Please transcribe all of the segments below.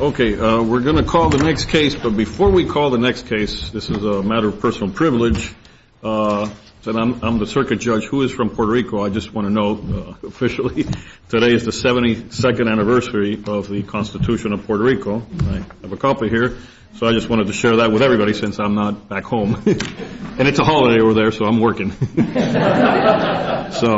Okay, we're going to call the next case, but before we call the next case, this is a matter of personal privilege. I'm the circuit judge. Who is from Puerto Rico, I just want to know officially. Today is the 72nd anniversary of the Constitution of Puerto Rico. I have a copy here, so I just wanted to share that with everybody since I'm not back home. And it's a holiday over there, so I'm working. So,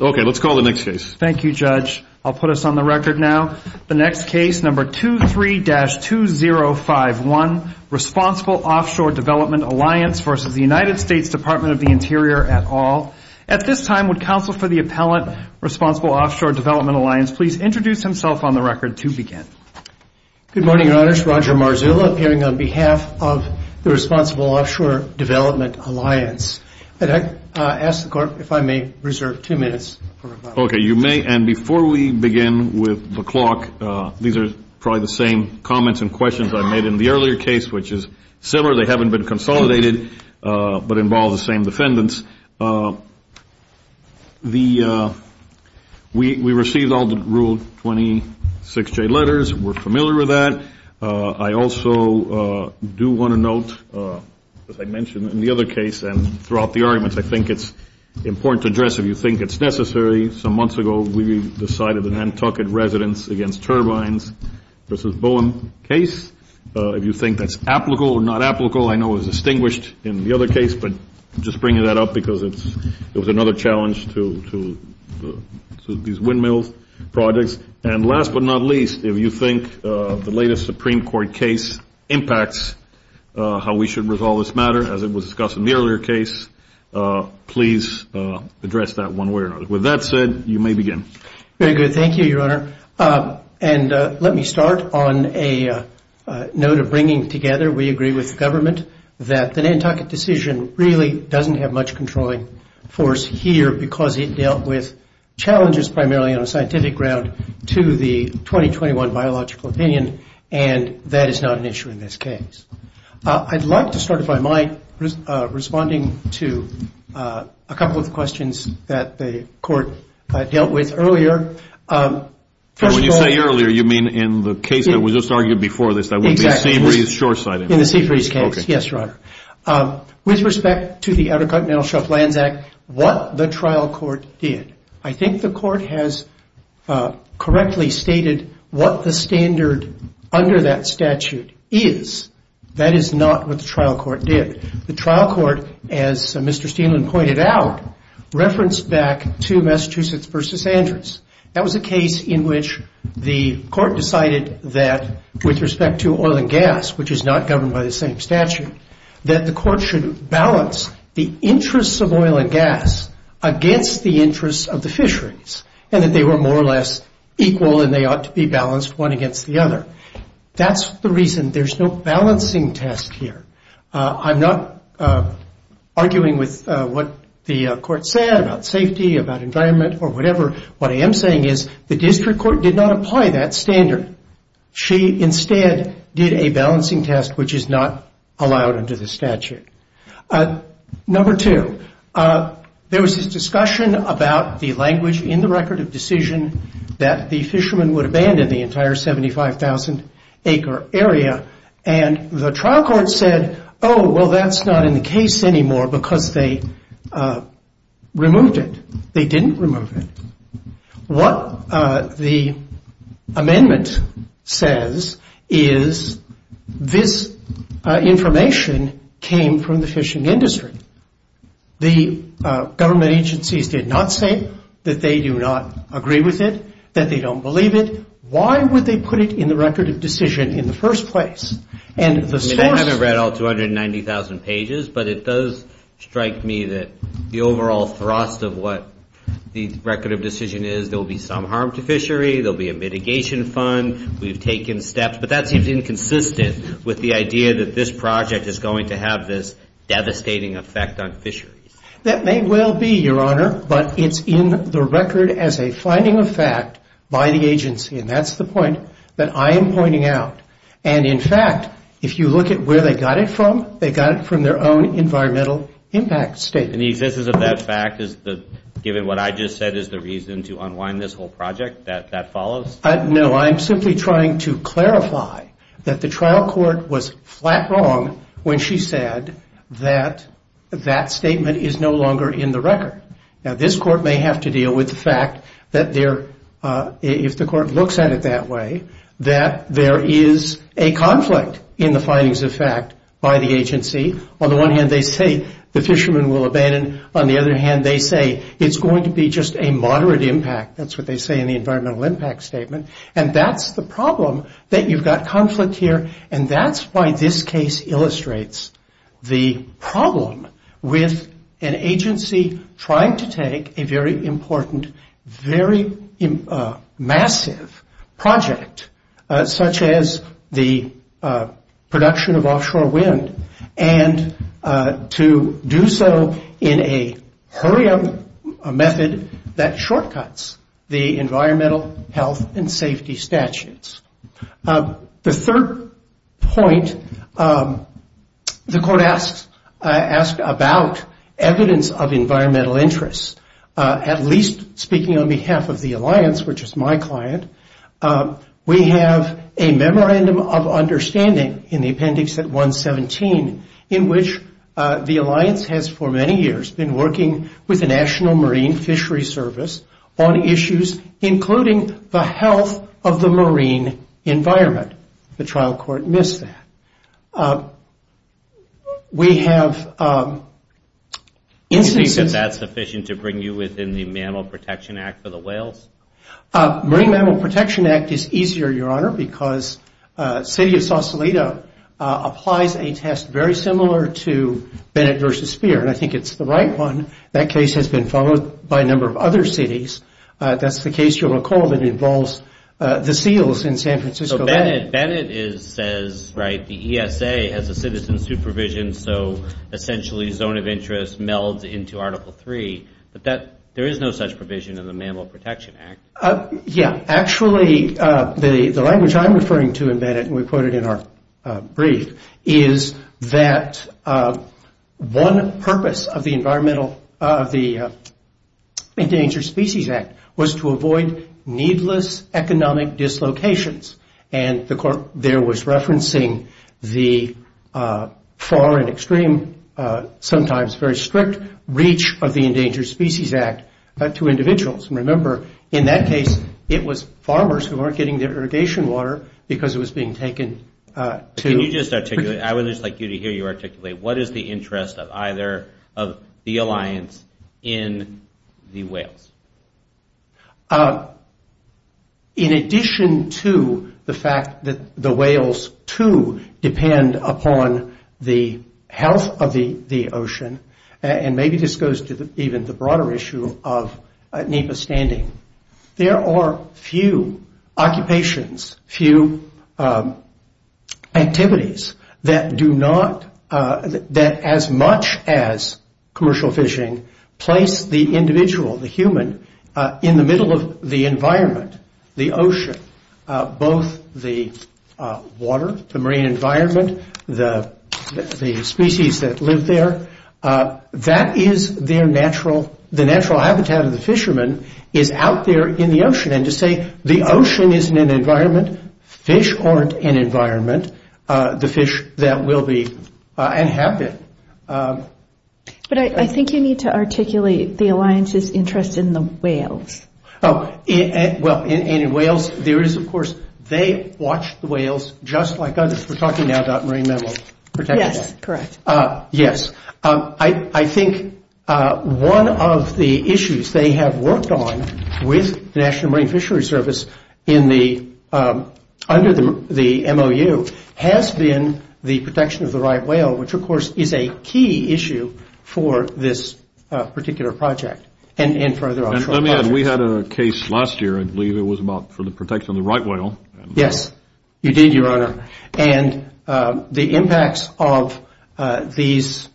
okay, let's call the next case. Thank you, Judge. I'll put us on the record now. The next case, number 23-2051, Responsible Offshore Development Alliance versus the United States Department of the Interior et al. At this time, would counsel for the appellant, Responsible Offshore Development Alliance, please introduce himself on the record to begin. Good morning, Your Honors. Roger Marzullo, appearing on behalf of the Responsible Offshore Development Alliance. Could I ask the Court if I may reserve two minutes for rebuttal? Okay, you may. And before we begin with the clock, these are probably the same comments and questions I made in the earlier case, which is similar. They haven't been consolidated, but involve the same defendants. We received all the Rule 26J letters. We're familiar with that. I also do want to note, as I mentioned in the other case and throughout the arguments, I think it's important to address if you think it's necessary. Some months ago, we decided an Nantucket residence against turbines versus Bowen case. If you think that's applicable or not applicable, I know it was distinguished in the other case, but I'm just bringing that up because it was another challenge to these windmill projects. And last but not least, if you think the latest Supreme Court case impacts how we should resolve this matter, as it was discussed in the earlier case, please address that one way or another. With that said, you may begin. Very good. Thank you, Your Honor. And let me start on a note of bringing together. We agree with the government that the Nantucket decision really doesn't have much controlling force here because it dealt with challenges primarily on a scientific ground to the 2021 biological opinion, and that is not an issue in this case. I'd like to start, if I might, responding to a couple of questions that the court dealt with earlier. When you say earlier, you mean in the case that was just argued before this, that would be Seabreeze Shoreside? In the Seabreeze case, yes, Your Honor. With respect to the Outer Continental Shelf Lands Act, what the trial court did, I think the court has correctly stated what the standard under that statute is. That is not what the trial court did. The trial court, as Mr. Steland pointed out, referenced back to Massachusetts v. Andrews. That was a case in which the court decided that with respect to oil and gas, which is not governed by the same statute, that the court should balance the interests of oil and gas against the interests of the fisheries, and that they were more or less equal and they ought to be balanced one against the other. That's the reason there's no balancing test here. I'm not arguing with what the court said about safety, about environment, or whatever. What I am saying is the district court did not apply that standard. She instead did a balancing test, which is not allowed under the statute. Number two, there was this discussion about the language in the record of decision that the fishermen would abandon the entire 75,000-acre area, and the trial court said, oh, well, that's not in the case anymore because they removed it. They didn't remove it. What the amendment says is this information came from the fishing industry. The government agencies did not say that they do not agree with it, that they don't believe it. Why would they put it in the record of decision in the first place? I haven't read all 290,000 pages, but it does strike me that the overall thrust of what the record of decision is, there will be some harm to fishery, there will be a mitigation fund, we've taken steps, but that seems inconsistent with the idea that this project is going to have this devastating effect on fisheries. That may well be, Your Honor, but it's in the record as a finding of fact by the agency, and that's the point that I am pointing out. And, in fact, if you look at where they got it from, they got it from their own environmental impact statement. And the existence of that fact, given what I just said is the reason to unwind this whole project, that that follows? No, I'm simply trying to clarify that the trial court was flat wrong when she said that that statement is no longer in the record. Now, this court may have to deal with the fact that if the court looks at it that way, that there is a conflict in the findings of fact by the agency. On the one hand, they say the fishermen will abandon. On the other hand, they say it's going to be just a moderate impact. That's what they say in the environmental impact statement. And that's the problem, that you've got conflict here, and that's why this case illustrates the problem with an agency trying to take a very important, very massive project, such as the production of offshore wind, and to do so in a hurry-up method that shortcuts the environmental health and safety statutes. The third point the court asked about evidence of environmental interests, at least speaking on behalf of the alliance, which is my client, we have a memorandum of understanding in the appendix at 117, in which the alliance has for many years been working with the National Marine Fishery Service on issues, including the health of the marine environment. The trial court missed that. We have instances... Do you think that that's sufficient to bring you within the Mammal Protection Act for the whales? Marine Mammal Protection Act is easier, Your Honor, because the city of Sausalito applies a test very similar to Bennett v. Speer, and I think it's the right one. That case has been followed by a number of other cities. That's the case, you'll recall, that involves the seals in San Francisco. So Bennett says, right, the ESA has a citizen supervision, so essentially zone of interest melds into Article III, but there is no such provision in the Mammal Protection Act. Yeah. Actually, the language I'm referring to in Bennett, and we quote it in our brief, is that one purpose of the Endangered Species Act was to avoid needless economic dislocations, and there was referencing the far and extreme, sometimes very strict, reach of the Endangered Species Act to individuals. Remember, in that case, it was farmers who weren't getting their irrigation water because it was being taken to... Can you just articulate, I would just like you to hear you articulate, what is the interest of either of the alliance in the whales? In addition to the fact that the whales, too, depend upon the health of the ocean, and maybe this goes to even the broader issue of NEPA standing, there are few occupations, few activities, that as much as commercial fishing, place the individual, the human, in the middle of the environment, the ocean, both the water, the marine environment, the species that live there. That is their natural... The natural habitat of the fishermen is out there in the ocean, and to say the ocean isn't an environment, fish aren't an environment, the fish that will be and have been. But I think you need to articulate the alliance's interest in the whales. Oh, well, and in whales, there is, of course, they watch the whales just like others. We're talking now about marine mammals. Yes, correct. Yes. I think one of the issues they have worked on with the National Marine Fisheries Service under the MOU has been the protection of the right whale, which, of course, is a key issue for this particular project and for other offshore projects. And let me add, we had a case last year, I believe it was about the protection of the right whale. Yes, you did, Your Honor. And the impacts of these,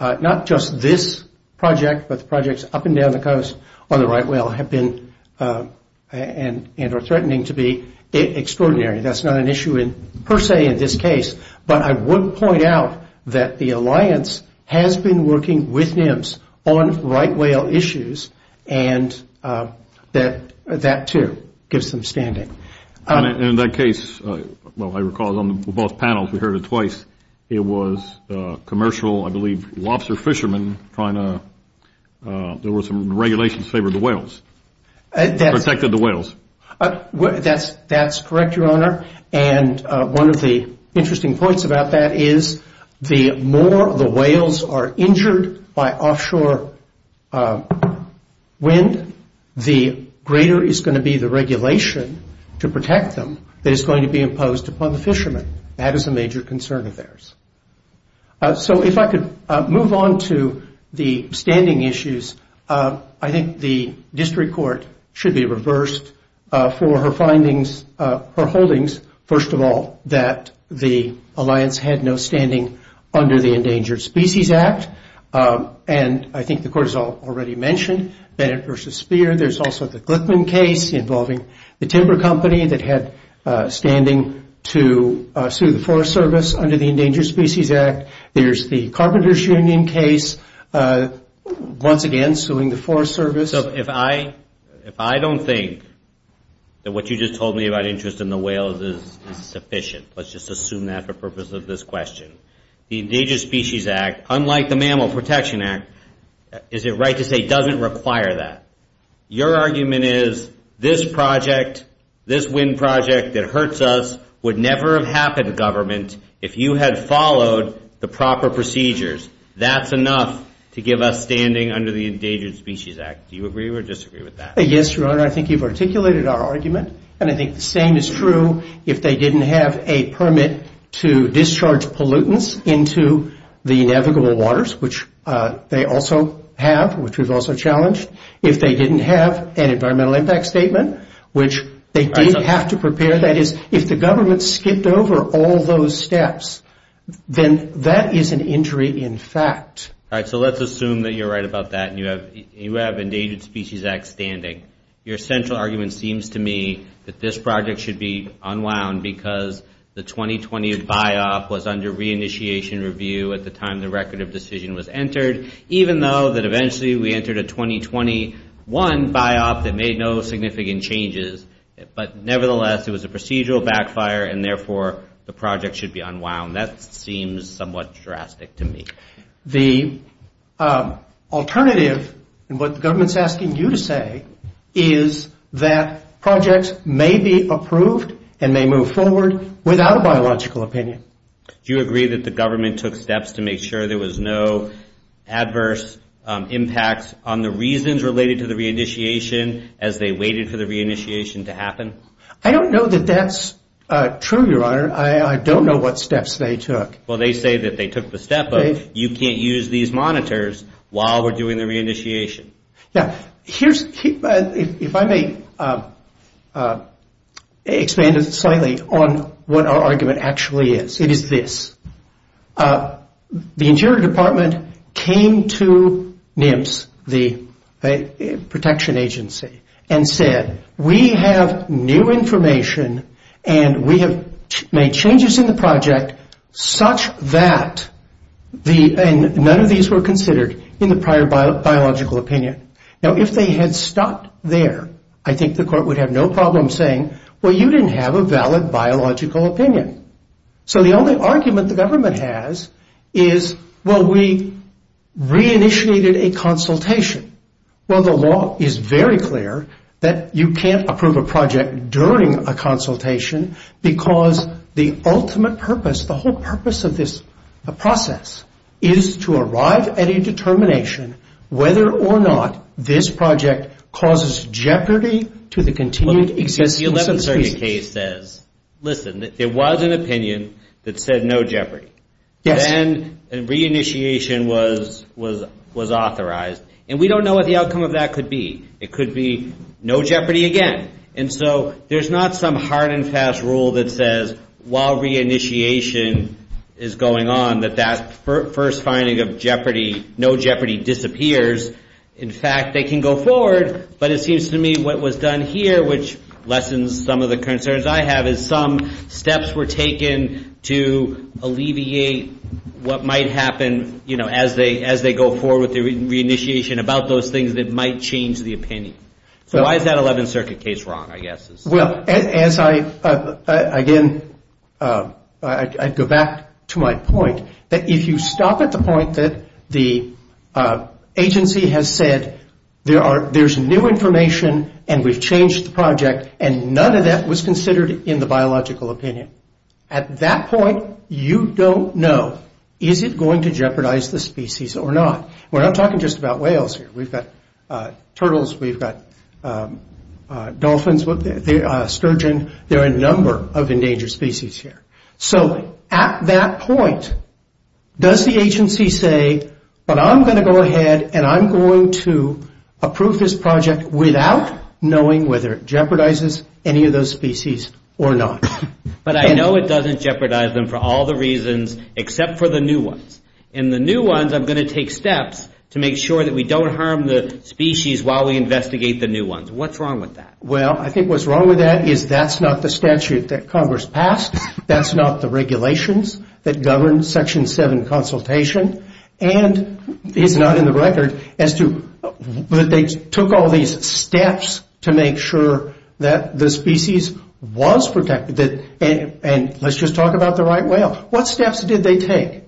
not just this project, but the projects up and down the coast on the right whale have been and are threatening to be extraordinary. That's not an issue per se in this case. But I would point out that the alliance has been working with NIMS on right whale issues, and that, too, gives them standing. In that case, well, I recall on both panels, we heard it twice, it was commercial, I believe, lobster fishermen trying to, there were some regulations in favor of the whales, protected the whales. That's correct, Your Honor, and one of the interesting points about that is the more the whales are injured by offshore wind, the greater is going to be the regulation to protect them that is going to be imposed upon the fishermen. That is a major concern of theirs. So if I could move on to the standing issues, I think the district court should be reversed for her findings, her holdings, first of all, that the alliance had no standing under the Endangered Species Act, and I think the court has already mentioned Bennett v. Speer. There's also the Glickman case involving the timber company that had standing to sue the Forest Service under the Endangered Species Act. There's the Carpenters Union case, once again suing the Forest Service. So if I don't think that what you just told me about interest in the whales is sufficient, let's just assume that for the purpose of this question, the Endangered Species Act, unlike the Mammal Protection Act, is it right to say it doesn't require that? Your argument is this project, this wind project that hurts us, would never have happened, government, if you had followed the proper procedures. That's enough to give us standing under the Endangered Species Act. Do you agree or disagree with that? Yes, Your Honor, I think you've articulated our argument, and I think the same is true if they didn't have a permit to discharge pollutants into the inevitable waters, which they also have, which we've also challenged. If they didn't have an environmental impact statement, which they didn't have to prepare, that is, if the government skipped over all those steps, then that is an injury in fact. All right, so let's assume that you're right about that, and you have Endangered Species Act standing. Your central argument seems to me that this project should be unwound because the 2020 buy-off was under re-initiation review at the time the record of decision was entered, even though that eventually we entered a 2021 buy-off that made no significant changes, but nevertheless it was a procedural backfire, and therefore the project should be unwound. That seems somewhat drastic to me. The alternative, and what the government's asking you to say, is that projects may be approved and may move forward without a biological opinion. Do you agree that the government took steps to make sure there was no adverse impacts on the reasons related to the re-initiation as they waited for the re-initiation to happen? I don't know that that's true, Your Honor. I don't know what steps they took. Well, they say that they took the step of, you can't use these monitors while we're doing the re-initiation. If I may expand slightly on what our argument actually is, it is this. The Interior Department came to NIMS, the protection agency, and said, we have new information, and we have made changes in the project such that none of these were considered in the prior biological opinion. Now, if they had stopped there, I think the court would have no problem saying, well, you didn't have a valid biological opinion. So the only argument the government has is, well, we re-initiated a consultation. Well, the law is very clear that you can't approve a project during a consultation because the ultimate purpose, the whole purpose of this process, is to arrive at a determination whether or not this project causes jeopardy to the continued existence of the species. The 11th Circuit case says, listen, there was an opinion that said no jeopardy. Then a re-initiation was authorized, and we don't know what the outcome of that could be. It could be no jeopardy again. And so there's not some hard and fast rule that says, while re-initiation is going on, that that first finding of no jeopardy disappears. In fact, they can go forward, but it seems to me what was done here, which lessens some of the concerns I have, is some steps were taken to alleviate what might happen as they go forward with the re-initiation about those things that might change the opinion. So why is that 11th Circuit case wrong, I guess? Well, as I, again, I'd go back to my point, that if you stop at the point that the agency has said, there's new information, and we've changed the project, and none of that was considered in the biological opinion. At that point, you don't know, is it going to jeopardize the species or not? We're not talking just about whales here. We've got turtles. We've got dolphins, sturgeon. There are a number of endangered species here. So at that point, does the agency say, but I'm going to go ahead, and I'm going to approve this project without knowing whether it jeopardizes any of those species or not? But I know it doesn't jeopardize them for all the reasons, except for the new ones. And the new ones, I'm going to take steps to make sure that we don't harm the species while we investigate the new ones. What's wrong with that? Well, I think what's wrong with that is that's not the statute that Congress passed. That's not the regulations that govern Section 7 consultation. And it's not in the record as to, but they took all these steps to make sure that the species was protected. And let's just talk about the right whale. What steps did they take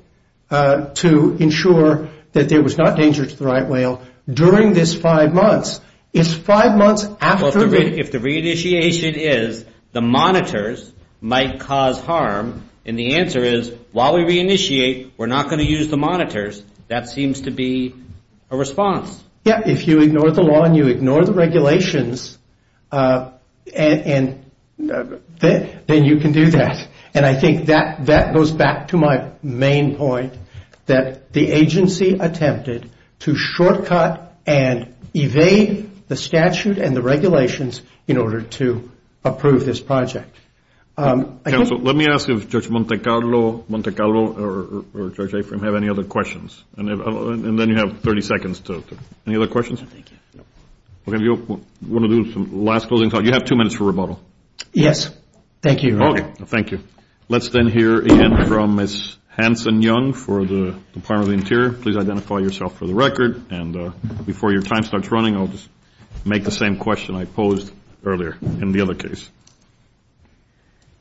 to ensure that there was not danger to the right whale during this five months? It's five months after... Well, if the re-initiation is, the monitors might cause harm, and the answer is, while we re-initiate, we're not going to use the monitors, that seems to be a response. Yeah, if you ignore the law and you ignore the regulations, then you can do that. And I think that goes back to my main point, that the agency attempted to shortcut and evade the statute and the regulations in order to approve this project. Counsel, let me ask if Judge Monte Carlo or Judge Afram have any other questions. And then you have 30 seconds. Any other questions? We're going to do some last closing thoughts. You have two minutes for rebuttal. Yes, thank you, Your Honor. Okay, thank you. Let's then hear again from Ms. Hanson-Young for the Department of the Interior. Please identify yourself for the record, and before your time starts running, I'll just make the same question I posed earlier in the other case.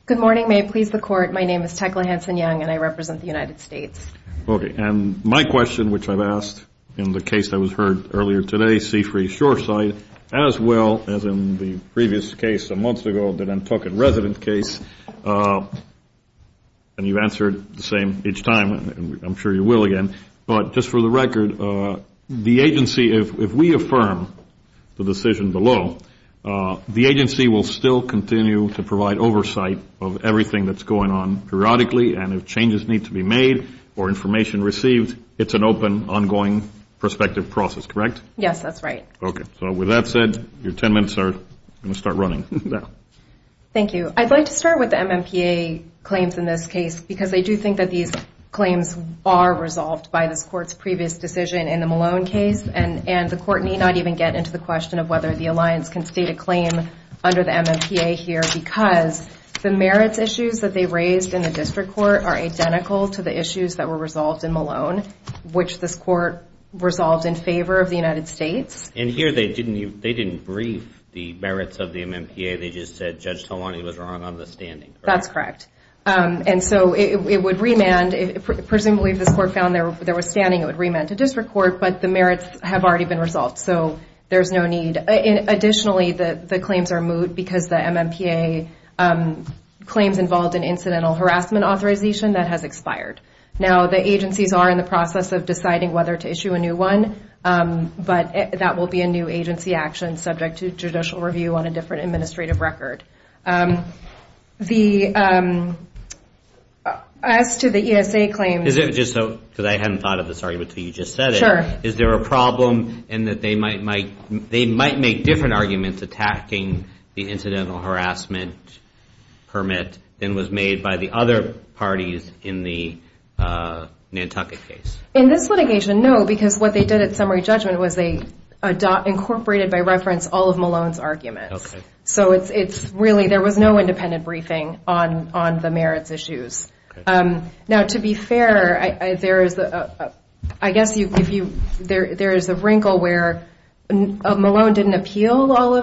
Good morning. May it please the Court. My name is Tecla Hanson-Young, and I represent the United States. Okay, and my question, which I've asked in the case that was heard earlier today, Seafree Shoreside, as well as in the previous case a month ago, the Nantucket resident case, and you've answered the same each time, and I'm sure you will again, but just for the record, the agency, if we affirm the decision below, the agency will still continue to provide oversight of everything that's going on periodically, and if changes need to be made or information received, it's an open, ongoing, prospective process, correct? Yes, that's right. Okay, so with that said, your 10 minutes are going to start running now. Thank you. I'd like to start with the MMPA claims in this case because I do think that these claims are resolved by this Court's previous decision in the Malone case, and the Court need not even get into the question of whether the Alliance can state a claim under the MMPA here because the merits issues that they raised in the District Court are identical to the issues that were resolved in Malone, which this Court resolved in favor of the United States. And here they didn't brief the merits of the MMPA, they just said Judge Talwani was wrong on the standing, correct? That's correct. And so it would remand, presumably if this Court found there was standing, it would remand to District Court, but the merits have already been resolved, so there's no need. Additionally, the claims are moot because the MMPA claims involved in incidental harassment authorization, that has expired. Now, the agencies are in the process of deciding whether to issue a new one, but that will be a new agency action subject to judicial review on a different administrative record. As to the ESA claims... Is it just so, because I hadn't thought of this argument until you just said it. Sure. Is there a problem in that they might make different arguments attacking the incidental harassment permit than was made by the other parties in the Nantucket case? In this litigation, no, because what they did at summary judgment was they incorporated by reference all of Malone's arguments. So it's really, there was no independent briefing on the merits issues. Now, to be fair, there is a wrinkle where Malone didn't appeal all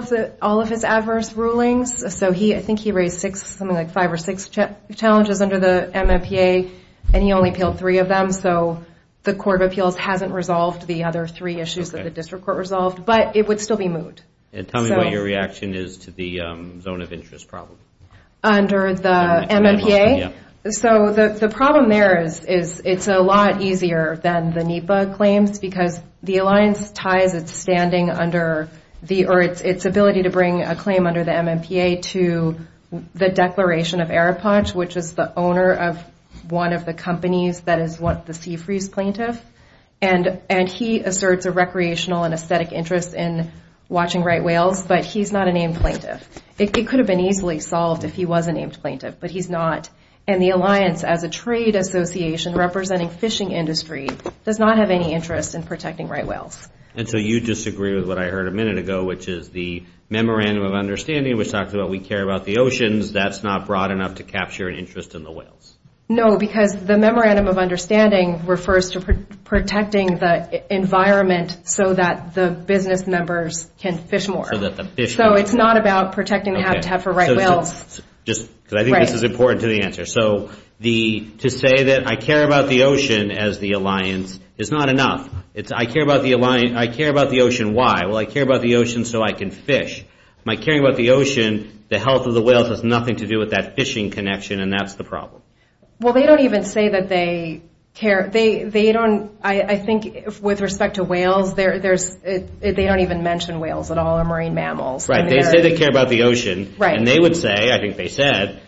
of his adverse rulings, so I think he raised six, something like five or six challenges under the MMPA, and he only appealed three of them, so the Court of Appeals hasn't resolved the other three issues that the district court resolved, but it would still be moot. And tell me what your reaction is to the zone of interest problem. Under the MMPA? Yeah. So the problem there is it's a lot easier than the NEPA claims, because the alliance ties its standing under the, or its ability to bring a claim under the MMPA to the Declaration of Arapache, which is the owner of one of the companies that is the sea freeze plaintiff, and he asserts a recreational and aesthetic interest in watching right whales, but he's not a named plaintiff. It could have been easily solved if he was a named plaintiff, but he's not, and the alliance, as a trade association representing fishing industry, does not have any interest in protecting right whales. And so you disagree with what I heard a minute ago, which is the Memorandum of Understanding, which talks about we care about the oceans. That's not broad enough to capture an interest in the whales. No, because the Memorandum of Understanding refers to protecting the environment so that the business members can fish more. So it's not about protecting the habitat for right whales. Just because I think this is important to the answer. So to say that I care about the ocean as the alliance is not enough. It's I care about the ocean, why? Well, I care about the ocean so I can fish. My caring about the ocean, the health of the whales has nothing to do with that fishing connection, and that's the problem. Well, they don't even say that they care. They don't, I think, with respect to whales, they don't even mention whales at all in marine mammals. Right. They say they care about the ocean. Right. And they would say, I think they said,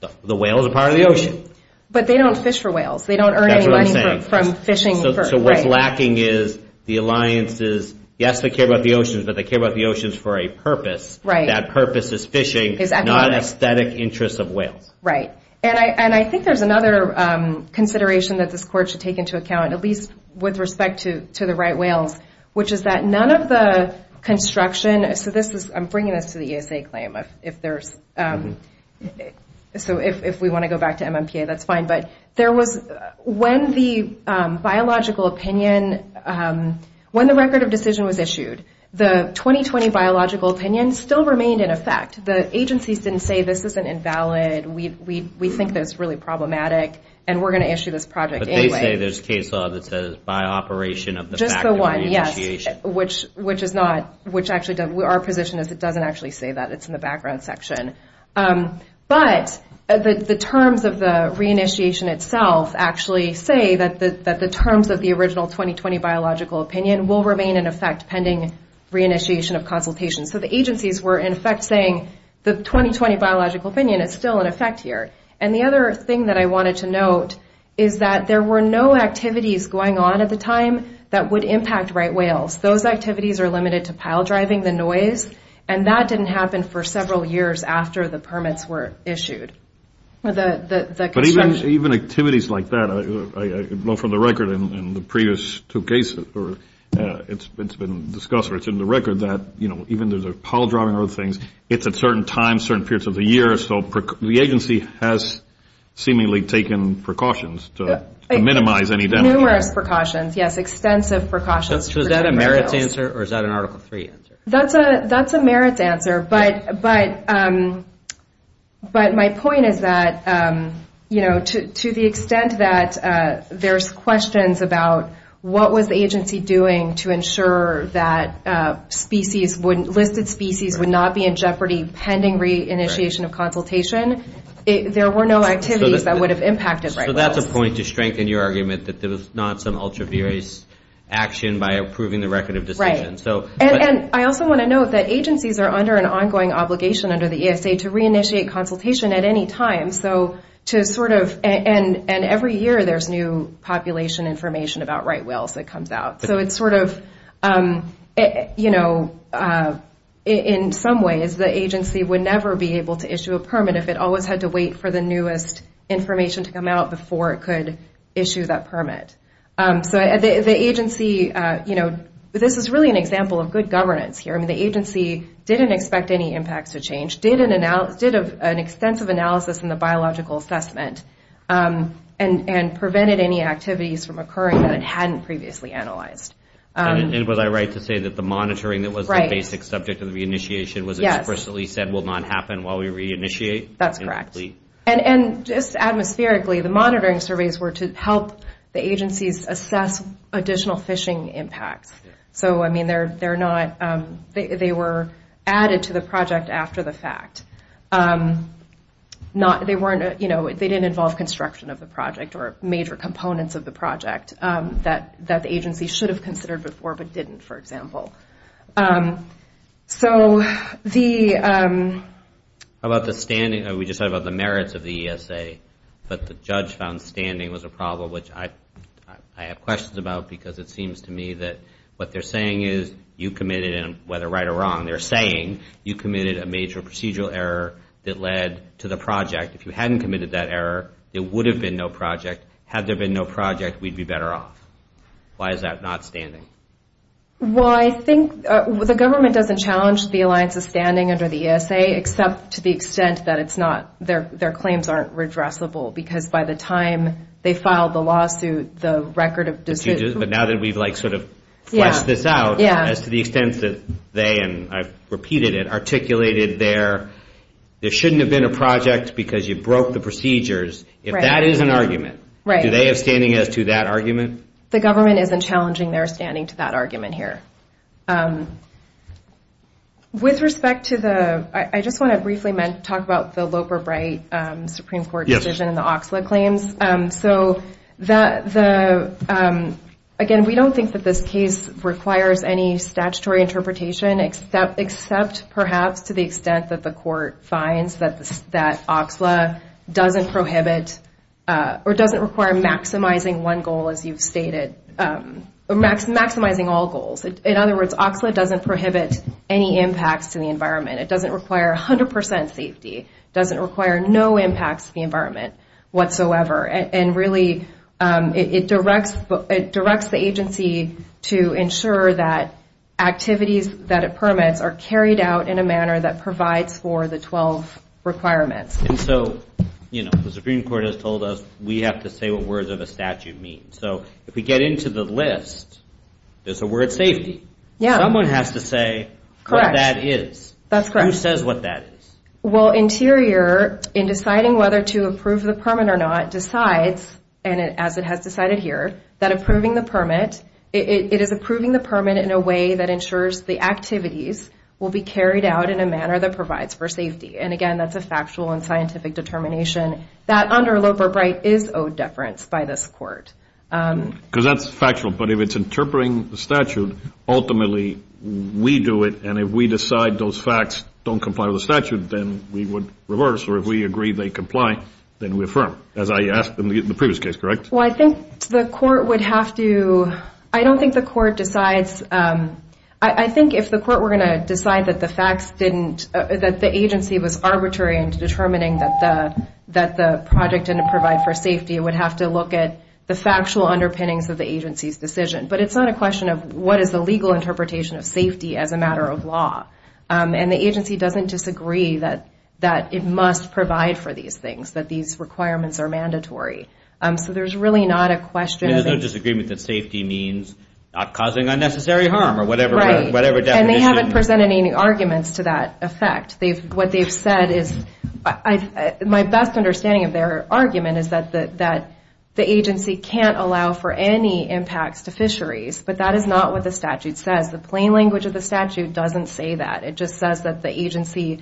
the whales are part of the ocean. But they don't fish for whales. That's what I'm saying. They don't earn any money from fishing. So what's lacking is the alliance's yes, they care about the oceans, but they care about the oceans for a purpose. Right. That purpose is fishing, not aesthetic interests of whales. Right. And I think there's another consideration that this court should take into account, at least with respect to the right whales, which is that none of the construction, so this is, I'm bringing this to the ESA claim, if there's, so if we want to go back to MMPA, that's fine, but there was, when the biological opinion, when the record of decision was issued, the 2020 biological opinion still remained in effect. The agencies didn't say, this isn't invalid, we think that it's really problematic, and we're going to issue this project anyway. But they say there's case law that says by operation of the fact of the re-initiation. Just the one, yes, which is not, which actually, our position is it doesn't actually say that. It's in the background section. But the terms of the re-initiation itself actually say that the terms of the original 2020 biological opinion will remain in effect pending re-initiation of consultation. So the agencies were in effect saying the 2020 biological opinion is still in effect here. And the other thing that I wanted to note is that there were no activities going on at the time that would impact right whales. Those activities are limited to pile driving, the noise, and that didn't happen for several years after the permits were issued. The construction. But even activities like that, I know from the record in the previous two cases or it's been discussed, or it's in the record that even there's a pile driving or other things, it's at certain times, certain periods of the year, so the agency has seemingly taken precautions to minimize any damage. Numerous precautions, yes. Extensive precautions. So is that a merits answer or is that an Article III answer? That's a merits answer. But my point is that to the extent that there's questions about what was the agency doing to ensure that species, listed species, would not be in jeopardy pending reinitiation of consultation, there were no activities that would have impacted right whales. So that's a point to strengthen your argument that there was not some ultra-various action by approving the record of decisions. And I also want to note that agencies are under an ongoing obligation under the ESA to reinitiate consultation at any time, so to sort of, and every year there's new population information about right whales that comes out. So it's sort of, you know, in some ways, the agency would never be able to issue a permit if it always had to wait for the newest information to come out before it could issue that permit. So the agency, you know, this is really an example of good governance here. I mean, the agency didn't expect any impacts to change, which did an extensive analysis in the biological assessment and prevented any activities from occurring that it hadn't previously analyzed. And was I right to say that the monitoring that was the basic subject of the reinitiation was explicitly said will not happen while we reinitiate? That's correct. And just atmospherically, the monitoring surveys were to help the agencies assess additional fishing impacts. So, I mean, they're not, they were added to the project after the fact. They weren't, you know, they didn't involve construction of the project or major components of the project that the agency should have considered before but didn't, for example. So the... How about the standing? We just talked about the merits of the ESA, but the judge found standing was a problem, which I have questions about because it seems to me that what they're saying is you committed, and whether right or wrong, they're saying you committed a major procedural error that led to the project. If you hadn't committed that error, there would have been no project. Had there been no project, we'd be better off. Why is that not standing? Well, I think the government doesn't challenge the alliance's standing under the ESA except to the extent that it's not, their claims aren't redressable because by the time they filed the lawsuit, the record of... But now that we've, like, sort of fleshed this out as to the extent that they, and I've repeated it, articulated their there shouldn't have been a project because you broke the procedures. If that is an argument, do they have standing as to that argument? The government isn't challenging their standing to that argument here. With respect to the... I just want to briefly talk about the Loper-Bright Supreme Court decision and the Oxlade claims. So that the... Again, we don't think that this case requires any statutory interpretation except perhaps to the extent that the court finds that Oxlade doesn't prohibit or doesn't require maximizing one goal as you've stated, maximizing all goals. In other words, Oxlade doesn't prohibit any impacts to the environment. It doesn't require 100% safety. It doesn't require no impacts to the environment whatsoever. And really, it directs the agency to ensure that activities that it permits are carried out in a manner that provides for the 12 requirements. And so, you know, the Supreme Court has told us we have to say what words of a statute mean. So if we get into the list, there's a word safety. Yeah. Someone has to say what that is. That's correct. Who says what that is? Well, Interior, in deciding whether to approve the permit or not, decides, and as it has decided here, that approving the permit, it is approving the permit in a way that ensures the activities will be carried out in a manner that provides for safety. And again, that's a factual and scientific determination that under Loeb or Bright is owed deference by this court. Because that's factual, but if it's interpreting the statute, ultimately, we do it, and if we decide those facts don't comply with the statute, then we would reverse, or if we agree they comply, then we affirm, as I asked in the previous case, correct? Well, I think the court would have to, I don't think the court decides, I think if the court were going to decide that the facts didn't, that the agency was arbitrary in determining that the project didn't provide for safety, it would have to look at the factual underpinnings of the agency's decision. But it's not a question of what is the legal interpretation of safety as a matter of law. And the agency doesn't disagree that it must provide for these things, that these requirements are mandatory. So there's really not a question. There's no disagreement that safety means not causing unnecessary harm or whatever definition And they haven't presented any arguments to that effect. What they've said is, my best understanding of their argument is that the agency can't allow for any impacts to fisheries. But that is not what the statute says. The plain language of the statute doesn't say that. It just says that the agency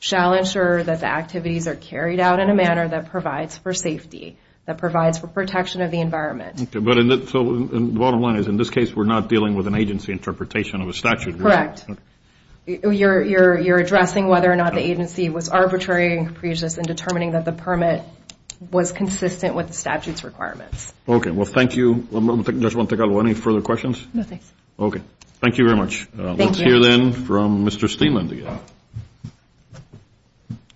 shall ensure that the activities are carried out in a manner that provides for safety, that provides for protection of the environment. So the bottom line is in this case we're not dealing with an agency interpretation of a statute. You're addressing whether or not the agency was arbitrary and capricious in determining that the permit was consistent with the statute's Okay. Well, thank you. Judge Montegallo, any further questions? No, thanks. Okay. Thank you very much. Thank you. Let's hear then from Mr. Steenland again.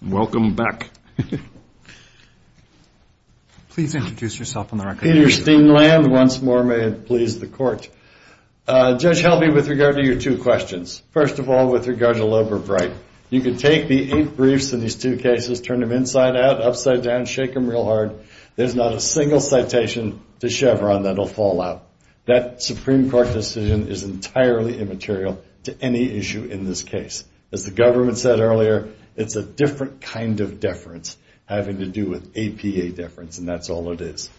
Welcome back. Please introduce yourself on the record. Peter Steenland, once more, may it please the court. Judge Helby, with regard to your two questions, first of all with regard to Loeb or Bright, you can take the eight briefs in these two cases, turn them inside out, upside down, shake them real hard. There's not a single citation to Chevron that'll fall out. That Supreme Court decision is entirely immaterial to any issue in this case. As the government said earlier, it's a different kind of deference having to do with APA deference and that's all it is.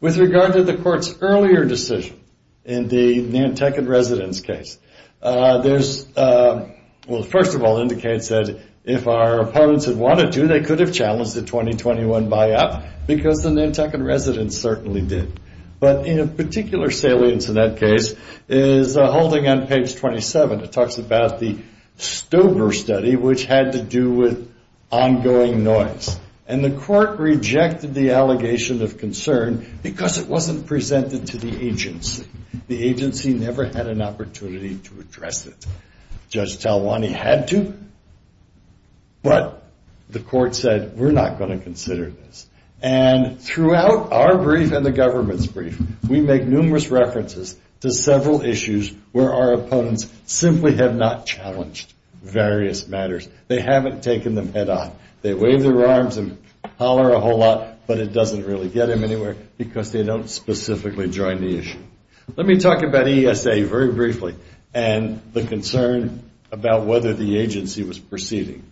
With regard to the court's earlier decision in the Nantucket residence case, there's, well, first of all, indicates that if our opponents had wanted to, they could have challenged the 2021 buyout because the Nantucket residence certainly did. But in a particular salience in that case is holding on page 27. It talks about the Stober study which had to do with ongoing noise. And the court rejected the allegation of concern because it wasn't presented to the agency. The agency never had an opportunity to address it. Judge Talwani had to, but the court said, we're not going to consider this. And throughout our brief and the government's brief, we make numerous references to several issues where our opponents simply have not challenged various matters. They haven't taken them head on. They wave their arms and holler a whole lot, but it doesn't really get them anywhere because they don't specifically join the issue. Let me talk about ESA very briefly and the concern about whether the agency was proceeding.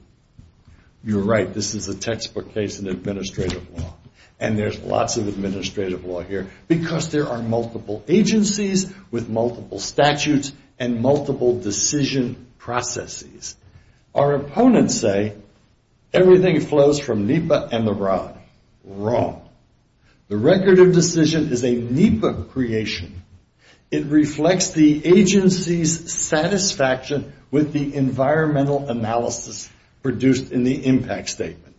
You're right. This is a textbook case in administrative law. And there's lots of administrative law here because there are multiple agencies with multiple statutes and multiple decision processes. Our opponents say everything flows from NEPA and the rod. Wrong. The record of decision is a NEPA creation. It reflects the agency's satisfaction with the environmental analysis produced in the impact statement.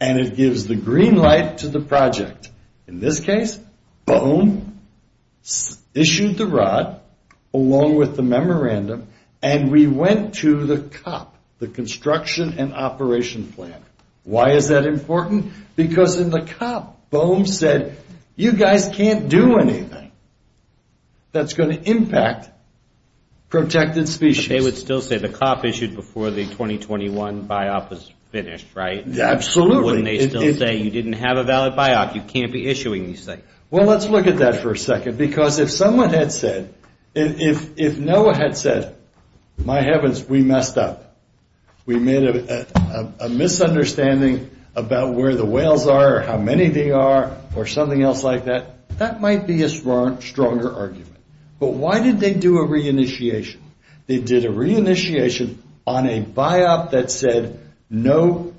And it gives the green light to the project. In this case, boom, issued the rod along with the memorandum and we went to the COP, the construction and operation plan. Why is that important? Because in the COP, BOEM said, you guys can't do anything that's going to impact protected species. They would still say the COP issued before the 2021 BIOP was finished, right? Absolutely. Wouldn't they still say you didn't have a valid BIOP, you can't be issuing these things? Well, let's look at that for a second because if someone had said, if NOAA had said, my heavens, we messed up. We made a misunderstanding about where the whales are or how many they are or something else like that. That might be a stronger argument. But why did they do a re-initiation? They did a re-initiation on a BIOP that said no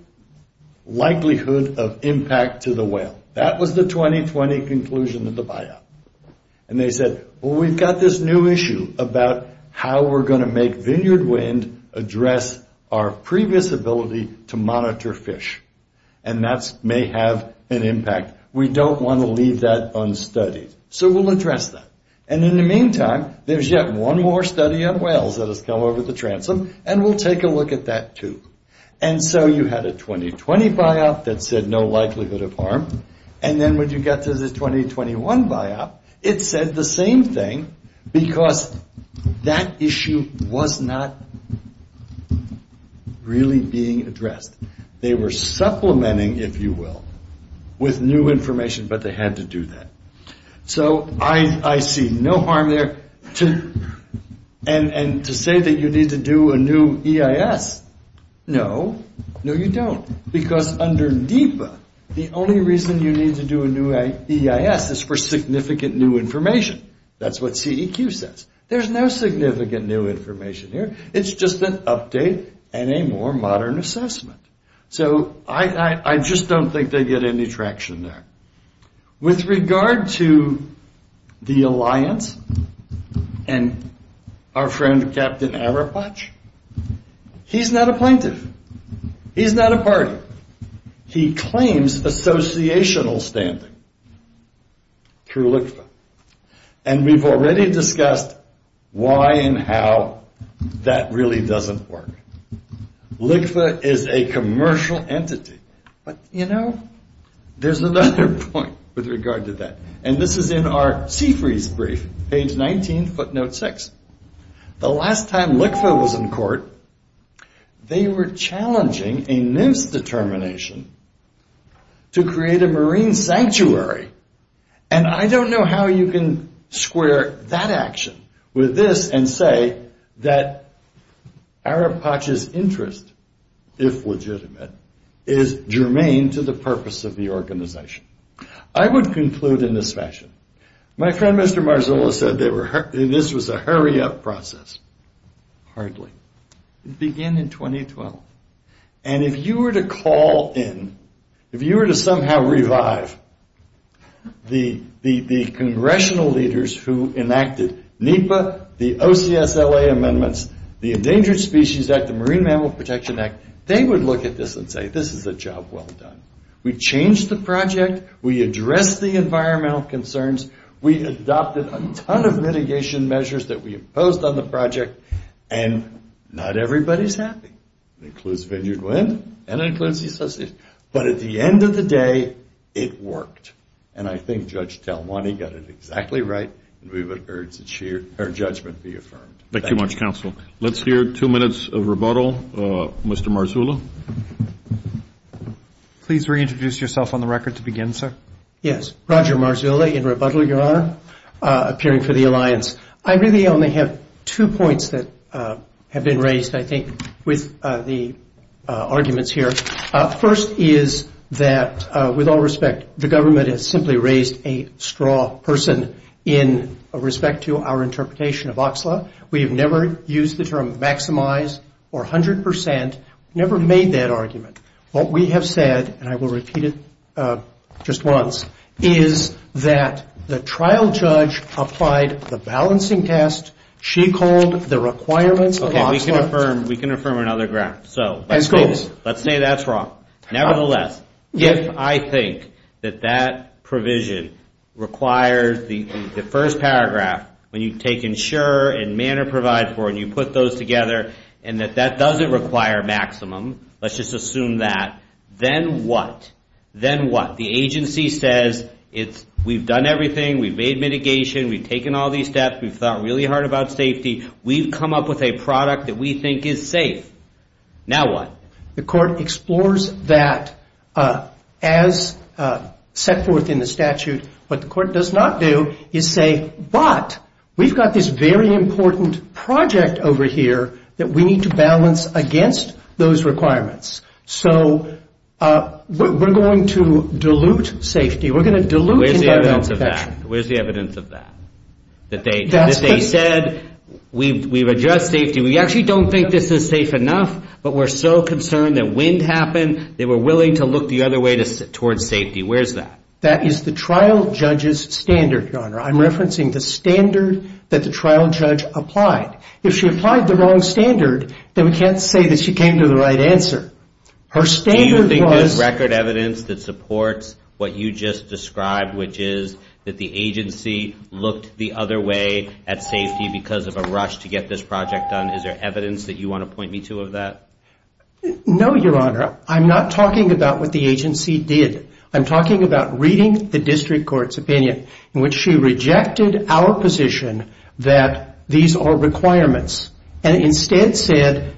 likelihood of impact to the whale. That was the 2020 conclusion of the BIOP. And they said, well, we've got this new issue about how we're going to make Vineyard Wind address our previous ability to monitor fish. And that may have an impact. We don't want to leave that unstudied. So we'll address that. And in the meantime, there's yet one more study on whales that has come over the transom and we'll take a look at that too. And so you had a 2020 BIOP that said no likelihood of harm. And then when you got to the 2021 BIOP, it said the same thing because that issue was not really being addressed. They were supplementing, if you will, with new information, but they had to do that. So I see no harm there. And to say that you need to do a new EIS, no. No, you don't. Because under DIPA, the only reason you need to do a new EIS is for significant new information. That's what CEQ says. There's no significant new information here. It's just an update and a more modern assessment. So I just don't think they get any traction there. With regard to the alliance and our friend Captain Arapatch, he's not a plaintiff. He's not a party. He claims associational standing through LIQFA. And we've already discussed why and how that really doesn't work. LIQFA is a commercial entity. But you know, there's another point with regard to that. And this is in our Seafreeze brief, page 19, footnote 6. The last time LIQFA was in court, they were challenging a NIMS determination to create a marine sanctuary. And I don't know how you can square that action with this and say that Arapatch's interest, if legitimate, is germane to the purpose of the organization. I would conclude in this fashion. My friend Mr. Marzullo said this was a hurry-up process. Hardly. It began in 2012. And if you were to call in, if you were to somehow revive the congressional leaders who enacted NEPA, the OCSLA amendments, the Endangered Species Act, the Marine Mammal Protection Act, they would look at this and say, this is a job well done. We changed the project. We addressed the environmental concerns. We adopted a ton of mitigation measures that we imposed on the project. And not everybody's happy. It includes Vineyard Wind and it includes the association. But at the end of the day, it worked. And I think Judge Del Monte got it exactly right. And we would urge that her judgment be affirmed. Thank you. Thank you much, counsel. Let's hear two minutes of rebuttal. Mr. Marzullo. Please reintroduce yourself on the record to begin, sir. Yes. Roger Marzullo in rebuttal, Your Honor, appearing for the alliance. I really only have two points that have been raised, I think, with the arguments here. First is that, with all respect, the government has simply raised a straw person in respect to our interpretation of OXLA. We have never used the term maximize or 100%. Never made that argument. What we have said, and I will repeat it just once, is that the trial judge applied the balancing test. She called the requirements of OXLA. Okay, we can affirm another graph. Let's say that's wrong. Nevertheless, if I think that that provision requires the first paragraph, when you take insure and manner provide for and you put those together, and that that doesn't require maximum, let's just assume that, then what? Then what? The agency says we've done everything, we've made mitigation, we've taken all these steps, we've thought really hard about safety, we've come up with a product that we think is safe. Now what? The court explores that as set forth in the statute. What the court does not do is say, but we've got this very important project over here that we need to balance against those requirements. So we're going to dilute safety. We're going to dilute the health protection. Where's the evidence of that? That they said we've addressed safety, we actually don't think this is safe enough, but we're so concerned that wind happened, they were willing to look the other way towards safety. Where's that? That is the trial judge's standard, Your Honor. I'm referencing the standard that the trial judge applied. If she applied the wrong standard, then we can't say that she came to the right answer. Do you think there's record evidence that supports what you just described, which is that the agency looked the other way at safety because of a rush to get this project done? Is there evidence that you want to point me to of that? No, Your Honor. I'm not talking about what the agency did. I'm talking about reading the district court's opinion in which she rejected our position that these are requirements and instead said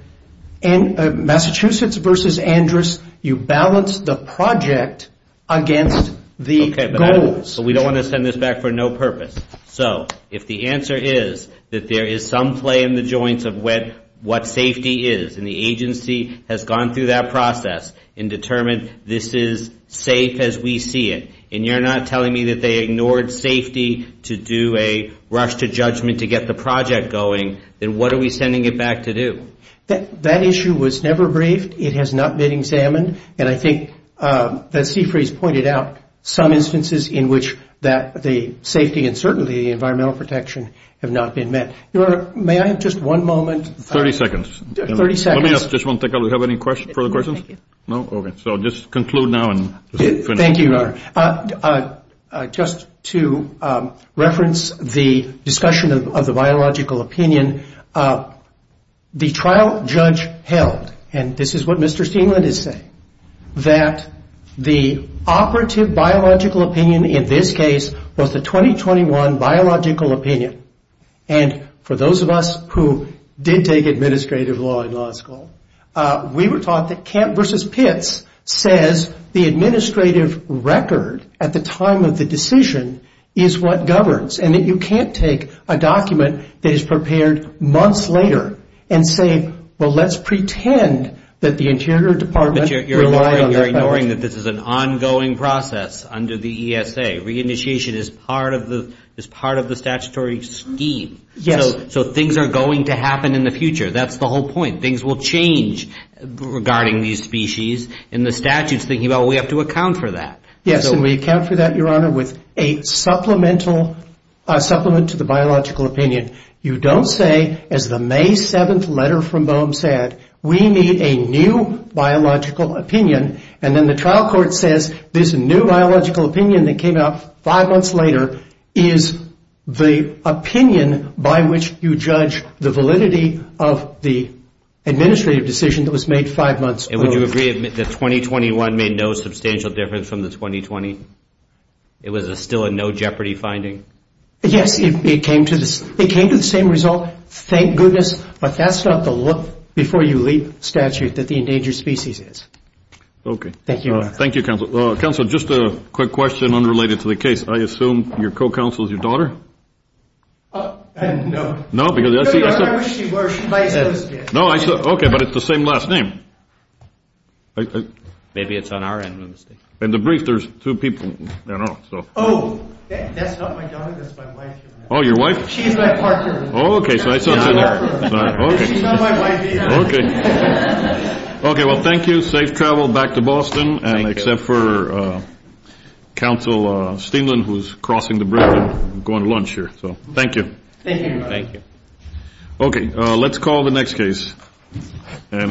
Massachusetts v. Andrus, you balance the project against the goals. We don't want to send this back for no purpose. So if the answer is that there is some play in the joints of what safety is, and the agency has gone through that process and determined this is safe as we see it, and you're not telling me that they ignored safety to do a rush to judgment to get the project going, then what are we sending it back to do? That issue was never briefed. It has not been examined. And I think that Seafreeze pointed out some instances in which the safety and certainly environmental protection have not been met. Your Honor, may I have just one moment? 30 seconds. 30 seconds. Let me ask this one thing. Do we have any further questions? No? Okay. So I'll just conclude now and finish. Thank you, Your Honor. Just to reference the discussion of the biological opinion, the trial judge held, and this is what Mr. Steenland is saying, that the operative biological opinion in this case was the 2021 biological opinion. And for those of us who did take administrative law in law school, we were taught that Kemp v. Pitts says the administrative record at the time of the decision is what governs, and that you can't take a document that is prepared months later and say, well, let's pretend that the Interior Department relied on that document. But you're ignoring that this is an ongoing process under the ESA. Reinitiation is part of the statutory scheme. Yes. So things are going to happen in the future. That's the whole point. Things will change regarding these species. And the statute is thinking, well, we have to account for that. Yes, and we account for that, Your Honor, with a supplement to the biological opinion. You don't say, as the May 7th letter from Bohm said, we need a new biological opinion. And then the trial court says this new biological opinion that came out five months later is the opinion by which you judge the validity of the administrative decision that was made five months ago. And would you agree that 2021 made no substantial difference from the 2020? It was still a no-jeopardy finding? Yes, it came to the same result, thank goodness. But that's not the before-you-leave statute that the endangered species is. Thank you, Your Honor. Thank you, counsel. Counsel, just a quick question unrelated to the case. I assume your co-counsel is your daughter? No. No, because I see. I wish she were. No, I saw. Okay, but it's the same last name. Maybe it's on our end. In the brief, there's two people. Oh, that's not my daughter. That's my wife. Oh, your wife? She's my partner. Oh, okay, so I saw. She's not my wife either. Okay, well, thank you. Safe travel back to Boston. Thank you. And except for counsel Steenland, who's crossing the bridge and going to lunch here. So thank you. Thank you, Your Honor. Thank you. Okay, let's call the next case.